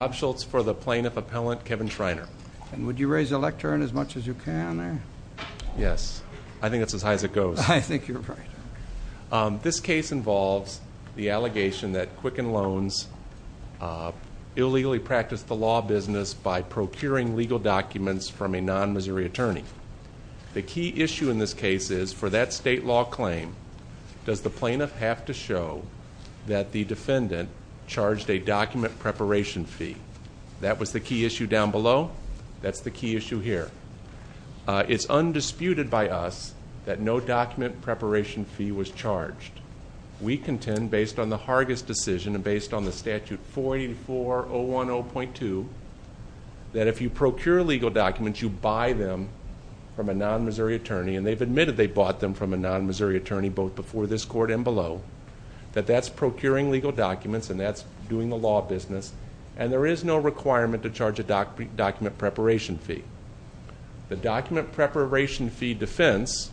Bob Schultz for the Plaintiff Appellant, Kevin Schreiner. And would you raise the lectern as much as you can? Yes. I think that's as high as it goes. I think you're right. This case involves the allegation that Quicken Loans illegally practiced the law business by procuring legal documents from a non-Missouri attorney. The key issue in this case is, for that state law claim, does the plaintiff have to show that the defendant charged a document preparation fee? That was the key issue down below. That's the key issue here. It's undisputed by us that no document preparation fee was charged. We contend, based on the Hargis decision and based on the statute 44010.2, that if you procure legal documents, you buy them from a non-Missouri attorney, and they've admitted they bought them from a non-Missouri attorney both before this court and below, that that's procuring legal documents and that's doing the law business, and there is no requirement to charge a document preparation fee. The document preparation fee defense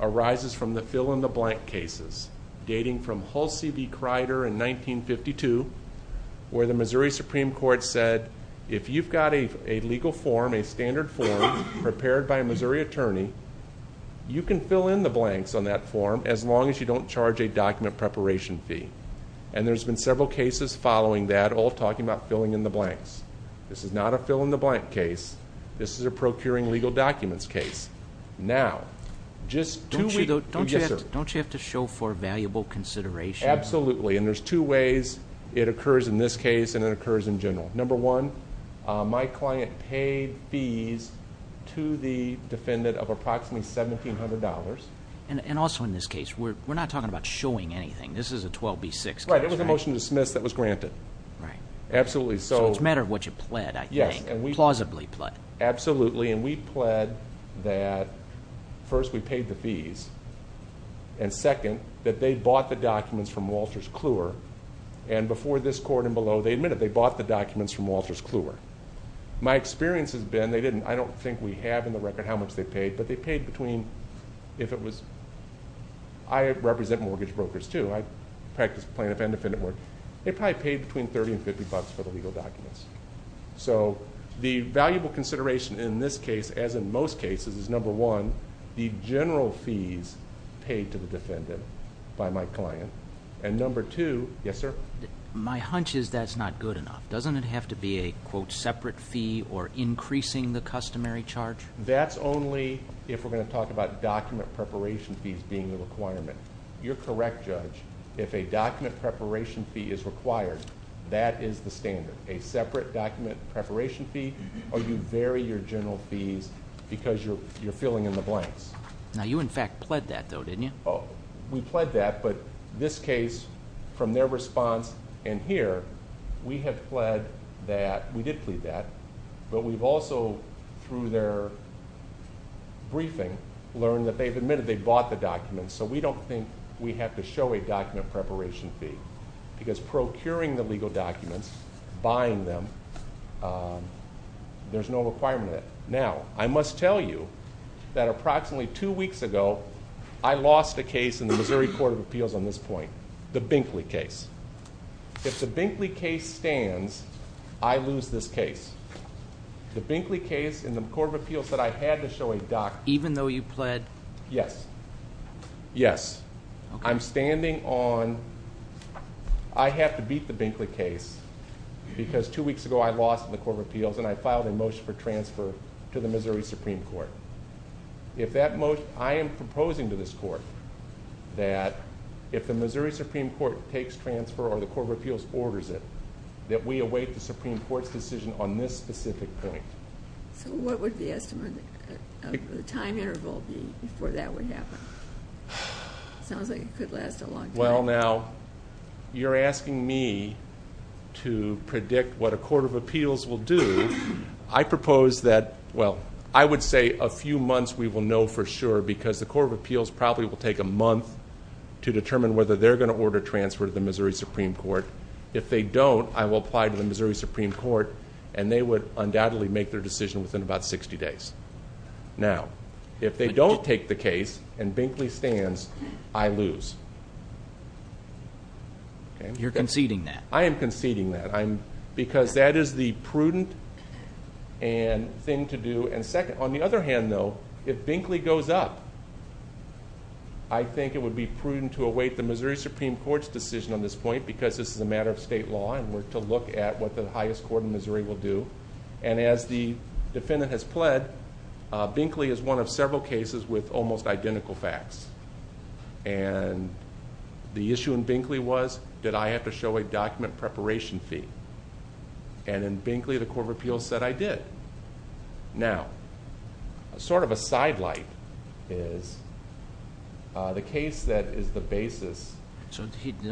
arises from the fill-in-the-blank cases, dating from Hulsey v. Crider in 1952, where the Missouri Supreme Court said, if you've got a legal form, a standard form prepared by a Missouri attorney, you can fill in the blanks on that form as long as you don't charge a document preparation fee. And there's been several cases following that all talking about filling in the blanks. This is not a fill-in-the-blank case. This is a procuring legal documents case. Now, just two ways. Don't you have to show for valuable consideration? Absolutely, and there's two ways it occurs in this case and it occurs in general. Number one, my client paid fees to the defendant of approximately $1,700. And also in this case, we're not talking about showing anything. This is a 12B6 case, right? Right. It was a motion to dismiss that was granted. Right. Absolutely. So it's a matter of what you pled, I think. Yes. Plausibly pled. Absolutely, and we pled that, first, we paid the fees, and second, that they bought the documents from Walters Kluwer, and before this court and below, they admitted they bought the documents from Walters Kluwer. My experience has been they didn't. I don't think we have in the record how much they paid, but they paid between, if it was, I represent mortgage brokers too. I practice plaintiff and defendant work. They probably paid between $30 and $50 for the legal documents. So the valuable consideration in this case, as in most cases, is number one, the general fees paid to the defendant by my client, and number two, yes, sir? My hunch is that's not good enough. Doesn't it have to be a, quote, separate fee or increasing the customary charge? That's only if we're going to talk about document preparation fees being the requirement. You're correct, Judge. If a document preparation fee is required, that is the standard, a separate document preparation fee or you vary your general fees because you're filling in the blanks. Now, you, in fact, pled that, though, didn't you? We pled that, but this case, from their response in here, we have pled that. We did plead that, but we've also, through their briefing, learned that they've admitted they bought the documents, so we don't think we have to show a document preparation fee because procuring the legal documents, buying them, there's no requirement. Now, I must tell you that approximately two weeks ago, I lost a case in the Missouri Court of Appeals on this point, the Binkley case. If the Binkley case stands, I lose this case. The Binkley case in the Court of Appeals that I had to show a document. Even though you pled? Yes. Yes. Okay. I'm standing on, I have to beat the Binkley case because two weeks ago, I lost in the Court of Appeals, and I filed a motion for transfer to the Missouri Supreme Court. I am proposing to this court that if the Missouri Supreme Court takes transfer or the Court of Appeals orders it, that we await the Supreme Court's decision on this specific point. What would the estimate of the time interval be before that would happen? Sounds like it could last a long time. Well, now, you're asking me to predict what a Court of Appeals will do. I propose that, well, I would say a few months we will know for sure because the Court of Appeals probably will take a month to determine whether they're going to order transfer to the Missouri Supreme Court. If they don't, I will apply to the Missouri Supreme Court, and they would undoubtedly make their decision within about 60 days. Now, if they don't take the case and Binkley stands, I lose. You're conceding that. I am conceding that because that is the prudent thing to do. On the other hand, though, if Binkley goes up, I think it would be prudent to await the Missouri Supreme Court's decision on this point because this is a matter of state law, and we're to look at what the highest court in Missouri will do. As the defendant has pled, Binkley is one of several cases with almost identical facts. The issue in Binkley was, did I have to show a document preparation fee? In Binkley, the Court of Appeals said I did. Now, sort of a sidelight is the case that is the basis... I am conceding that.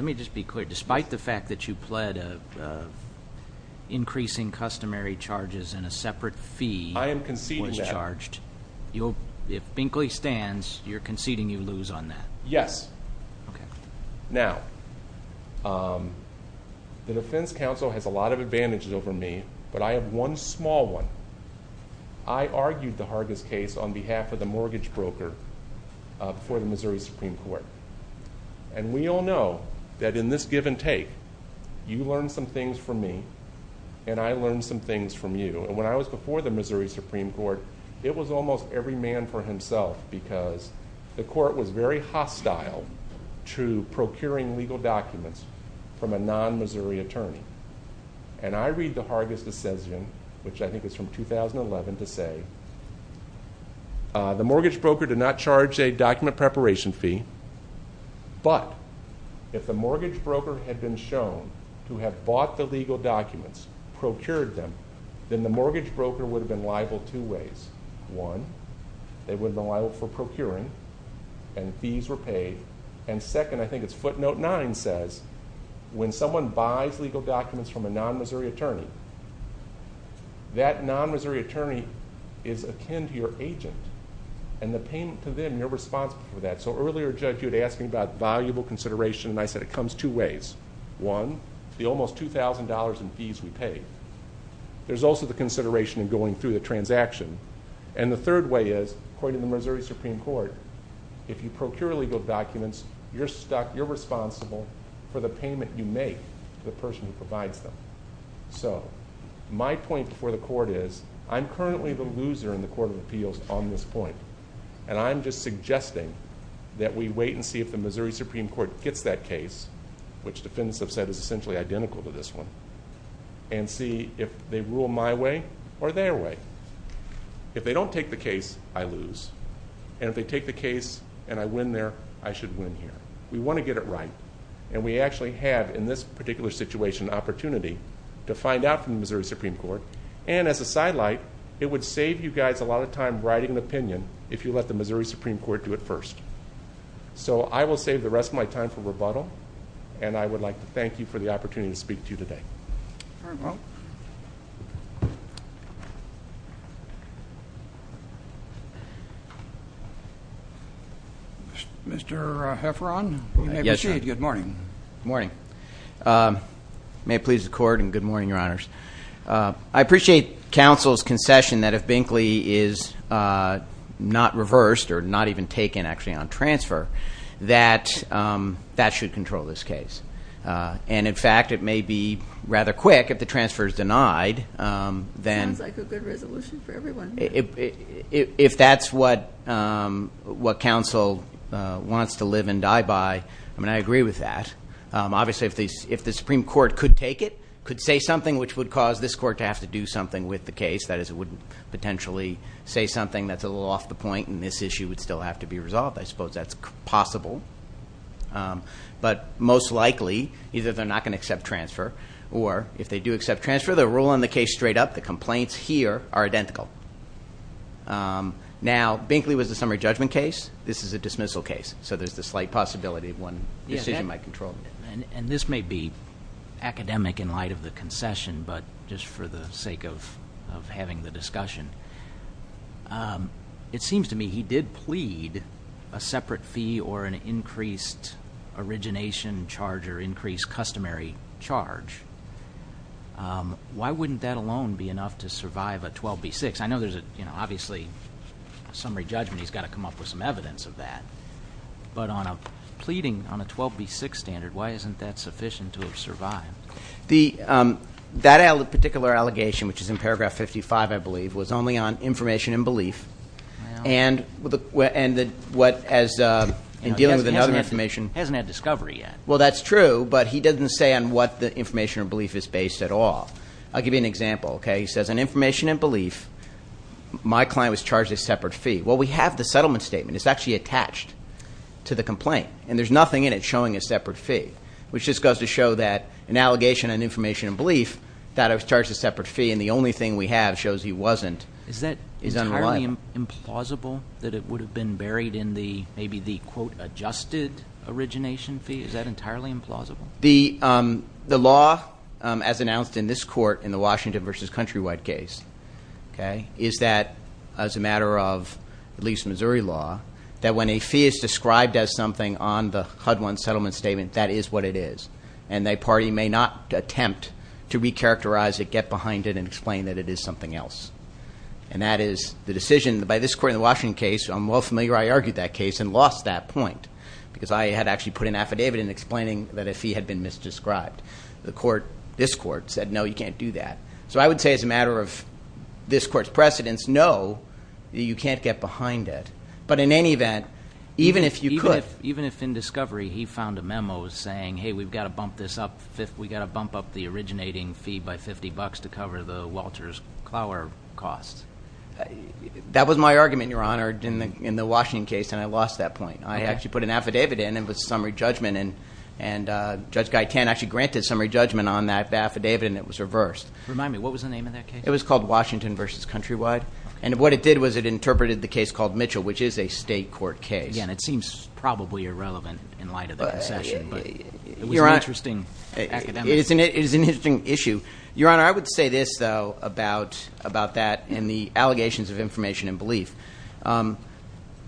If Binkley stands, you're conceding you lose on that. Yes. Okay. Now, the defense counsel has a lot of advantages over me, but I have one small one. I argued the Hargis case on behalf of the mortgage broker for the Missouri Supreme Court, and we all know that in this give and take, you learn some things from me, and I learn some things from you. When I was before the Missouri Supreme Court, it was almost every man for himself because the court was very hostile to procuring legal documents from a non-Missouri attorney. And I read the Hargis decision, which I think is from 2011, to say, the mortgage broker did not charge a document preparation fee, but if the mortgage broker had been shown to have bought the legal documents, procured them, then the mortgage broker would have been liable two ways. One, they would have been liable for procuring, and fees were paid. And second, I think it's footnote nine says, when someone buys legal documents from a non-Missouri attorney, that non-Missouri attorney is akin to your agent, and the payment to them, you're responsible for that. So earlier a judge asked me about valuable consideration, and I said it comes two ways. One, the almost $2,000 in fees we pay. There's also the consideration of going through the transaction. And the third way is, according to the Missouri Supreme Court, if you procure legal documents, you're stuck, you're responsible for the payment you make to the person who provides them. So my point before the court is, I'm currently the loser in the Court of Appeals on this point, and I'm just suggesting that we wait and see if the Missouri Supreme Court gets that case, which defendants have said is essentially identical to this one, and see if they rule my way or their way. If they don't take the case, I lose. And if they take the case and I win there, I should win here. We want to get it right, and we actually have, in this particular situation, an opportunity to find out from the Missouri Supreme Court. And as a sidelight, it would save you guys a lot of time writing an opinion if you let the Missouri Supreme Court do it first. So I will save the rest of my time for rebuttal, and I would like to thank you for the opportunity to speak to you today. Mr. Hefferon, you may proceed. Good morning. Good morning. May it please the Court, and good morning, Your Honors. I appreciate counsel's concession that if Binkley is not reversed or not even taken actually on transfer, that that should control this case. And, in fact, it may be rather quick if the transfer is denied. Sounds like a good resolution for everyone. If that's what counsel wants to live and die by, I mean, I agree with that. Obviously, if the Supreme Court could take it, could say something, which would cause this Court to have to do something with the case, that is it wouldn't potentially say something that's a little off the point and this issue would still have to be resolved. I suppose that's possible. But most likely, either they're not going to accept transfer, or if they do accept transfer, they're rolling the case straight up. The complaints here are identical. Now, Binkley was a summary judgment case. This is a dismissal case, so there's the slight possibility that one decision might control it. And this may be academic in light of the concession, but just for the sake of having the discussion, it seems to me he did plead a separate fee or an increased origination charge or increased customary charge. Why wouldn't that alone be enough to survive a 12B6? I know there's obviously a summary judgment. He's got to come up with some evidence of that. But on a pleading on a 12B6 standard, why isn't that sufficient to have survived? That particular allegation, which is in paragraph 55, I believe, was only on information and belief. And in dealing with another information. He hasn't had discovery yet. Well, that's true, but he doesn't say on what the information or belief is based at all. I'll give you an example. He says on information and belief, my client was charged a separate fee. Well, we have the settlement statement. It's actually attached to the complaint. And there's nothing in it showing a separate fee, which just goes to show that an allegation on information and belief, that it was charged a separate fee and the only thing we have shows he wasn't. Is that entirely implausible that it would have been buried in maybe the, quote, adjusted origination fee? Is that entirely implausible? The law, as announced in this court in the Washington v. Countrywide case, is that as a matter of at least Missouri law, that when a fee is described as something on the HUD-1 settlement statement, that is what it is. And a party may not attempt to recharacterize it, get behind it, and explain that it is something else. And that is the decision by this court in the Washington case, I'm well familiar, I argued that case and lost that point because I had actually put an affidavit in explaining that a fee had been misdescribed. This court said, no, you can't do that. So I would say as a matter of this court's precedence, no, you can't get behind it. But in any event, even if you could. Even if in discovery he found a memo saying, hey, we've got to bump this up, we've got to bump up the originating fee by 50 bucks to cover the Walters-Clower cost. That was my argument, Your Honor, in the Washington case, and I lost that point. I actually put an affidavit in and it was summary judgment, and Judge Guy Tan actually granted summary judgment on that affidavit and it was reversed. Remind me, what was the name of that case? It was called Washington v. Countrywide. And what it did was it interpreted the case called Mitchell, which is a state court case. Again, it seems probably irrelevant in light of the concession, but it was an interesting academic. It is an interesting issue. Your Honor, I would say this, though, about that and the allegations of information and belief.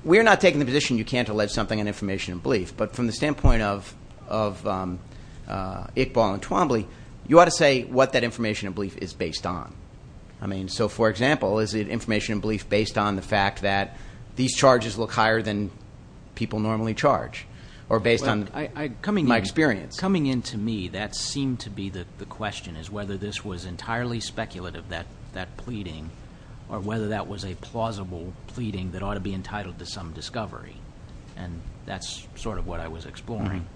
We're not taking the position you can't allege something on information and belief, but from the standpoint of Iqbal and Twombly, you ought to say what that information and belief is based on. I mean, so for example, is it information and belief based on the fact that these charges look higher than people normally charge? Or based on my experience? Coming in to me, that seemed to be the question, is whether this was entirely speculative, that pleading, or whether that was a plausible pleading that ought to be entitled to some discovery. And that's sort of what I was exploring.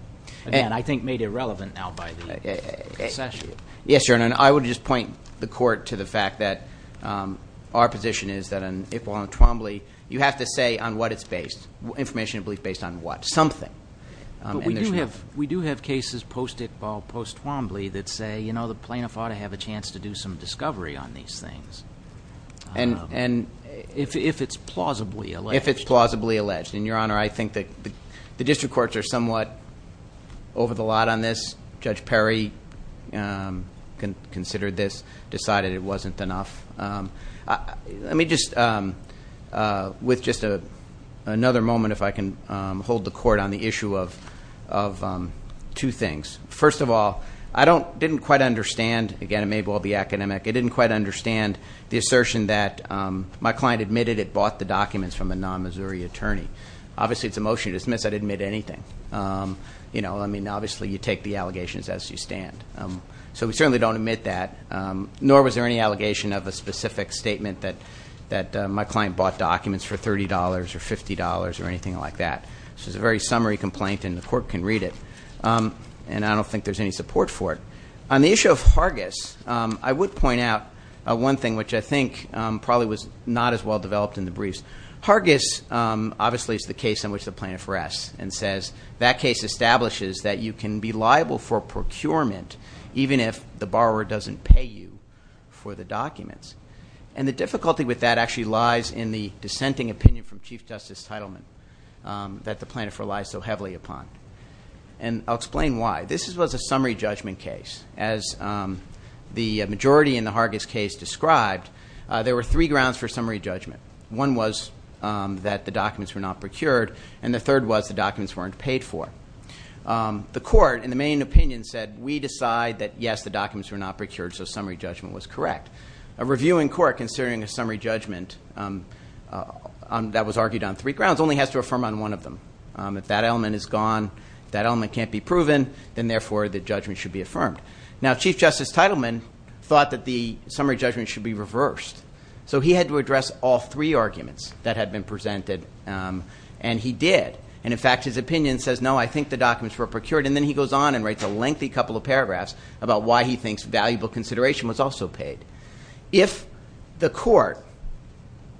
Again, I think made irrelevant now by the concession. Yes, Your Honor, and I would just point the court to the fact that our position is that on Iqbal and Twombly, you have to say on what it's based, information and belief based on what? Something. But we do have cases post-Iqbal, post-Twombly that say, you know, the plaintiff ought to have a chance to do some discovery on these things. And if it's plausibly alleged. If it's plausibly alleged. And, Your Honor, I think that the district courts are somewhat over the lot on this. Judge Perry considered this, decided it wasn't enough. Let me just, with just another moment, if I can hold the court on the issue of two things. First of all, I didn't quite understand, again, maybe I'll be academic, I didn't quite understand the assertion that my client admitted it bought the documents from a non-Missouri attorney. Obviously, it's a motion to dismiss. I didn't admit anything. You know, I mean, obviously, you take the allegations as you stand. So we certainly don't admit that. Nor was there any allegation of a specific statement that my client bought documents for $30 or $50 or anything like that. So it's a very summary complaint and the court can read it. And I don't think there's any support for it. On the issue of Hargis, I would point out one thing, which I think probably was not as well developed in the briefs. Hargis, obviously, is the case in which the plaintiff rests and says, that case establishes that you can be liable for procurement even if the borrower doesn't pay you for the documents. And the difficulty with that actually lies in the dissenting opinion from Chief Justice Teitelman that the plaintiff relies so heavily upon. And I'll explain why. This was a summary judgment case. As the majority in the Hargis case described, there were three grounds for summary judgment. One was that the documents were not procured. And the third was the documents weren't paid for. The court, in the main opinion, said, we decide that, yes, the documents were not procured, so summary judgment was correct. A reviewing court, considering a summary judgment that was argued on three grounds, only has to affirm on one of them. If that element is gone, that element can't be proven, then, therefore, the judgment should be affirmed. Now, Chief Justice Teitelman thought that the summary judgment should be reversed. So he had to address all three arguments that had been presented, and he did. And, in fact, his opinion says, no, I think the documents were procured. And then he goes on and writes a lengthy couple of paragraphs about why he thinks valuable consideration was also paid. If the court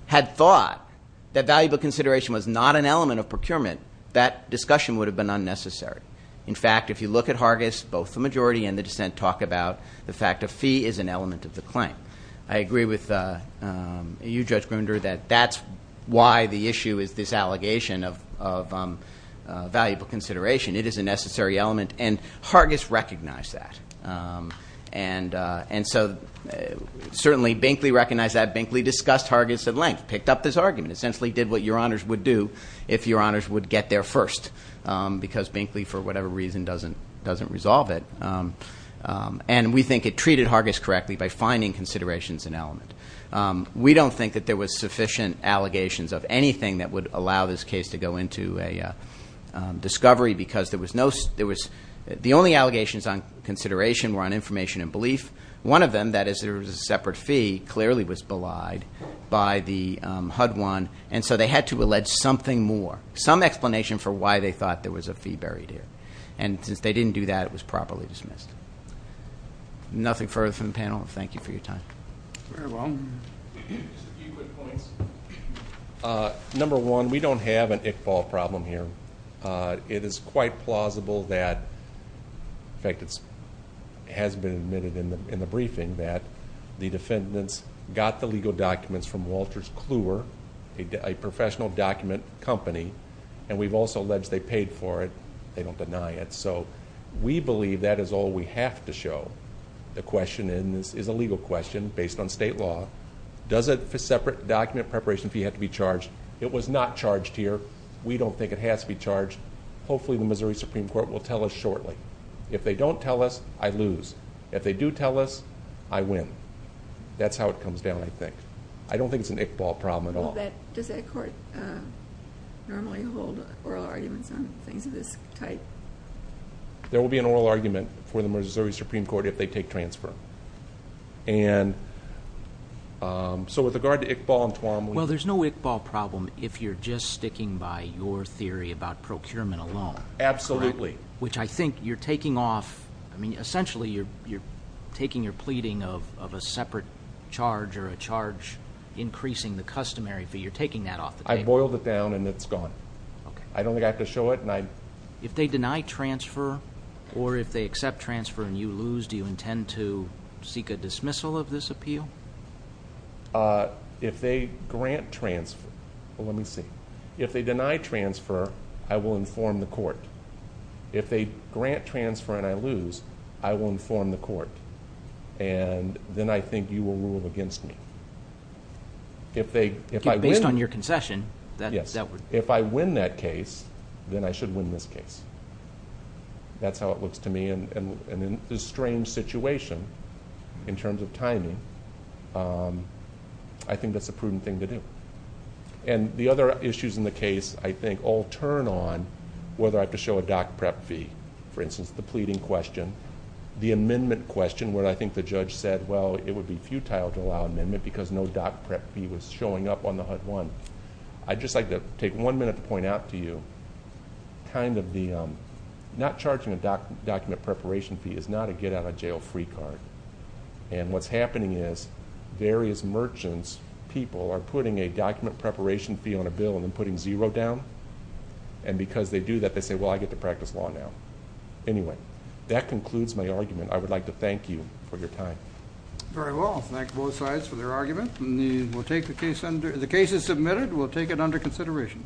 had thought that valuable consideration was not an element of procurement, that discussion would have been unnecessary. In fact, if you look at Hargis, both the majority and the dissent talk about the fact a fee is an element of the claim. I agree with you, Judge Grimender, that that's why the issue is this allegation of valuable consideration. It is a necessary element, and Hargis recognized that. And so, certainly, Binkley recognized that. Binkley discussed Hargis at length, picked up this argument, essentially did what your honors would do if your honors would get there first. Because Binkley, for whatever reason, doesn't resolve it. And we think it treated Hargis correctly by finding considerations an element. We don't think that there was sufficient allegations of anything that would allow this case to go into a discovery, because the only allegations on consideration were on information and belief. One of them, that is, there was a separate fee, clearly was belied by the HUD one. And so they had to allege something more, some explanation for why they thought there was a fee buried here. And since they didn't do that, it was properly dismissed. Nothing further from the panel. Thank you for your time. Very well. Just a few quick points. Number one, we don't have an Iqbal problem here. It is quite plausible that, in fact, it has been admitted in the briefing, that the defendants got the legal documents from Walters Kluwer, a professional document company, and we've also alleged they paid for it. They don't deny it. So we believe that is all we have to show. The question is a legal question based on state law. Does a separate document preparation fee have to be charged? It was not charged here. We don't think it has to be charged. Hopefully the Missouri Supreme Court will tell us shortly. If they don't tell us, I lose. If they do tell us, I win. That's how it comes down, I think. I don't think it's an Iqbal problem at all. Does that court normally hold oral arguments on things of this type? There will be an oral argument for the Missouri Supreme Court if they take transfer. So with regard to Iqbal and Tuam. Well, there's no Iqbal problem if you're just sticking by your theory about procurement alone. Absolutely. Which I think you're taking off. I boiled it down and it's gone. I don't think I have to show it. If they deny transfer or if they accept transfer and you lose, do you intend to seek a dismissal of this appeal? If they grant transfer, let me see. If they deny transfer, I will inform the court. If they grant transfer and I lose, I will inform the court. And then I think you will rule against me. If I win... Based on your concession, that would... If I win that case, then I should win this case. That's how it looks to me. In this strange situation, in terms of timing, I think that's a prudent thing to do. The other issues in the case, I think, all turn on whether I have to show a doc prep fee. For instance, the pleading question. The amendment question, where I think the judge said, well, it would be futile to allow amendment because no doc prep fee was showing up on the HUD-1. I'd just like to take one minute to point out to you, not charging a document preparation fee is not a get out of jail free card. What's happening is various merchants, people, are putting a document preparation fee on a bill and then putting zero down. And because they do that, they say, well, I get to practice law now. Anyway, that concludes my argument. I would like to thank you for your time. Very well. Thank both sides for their argument. The case is submitted. We'll take it under consideration.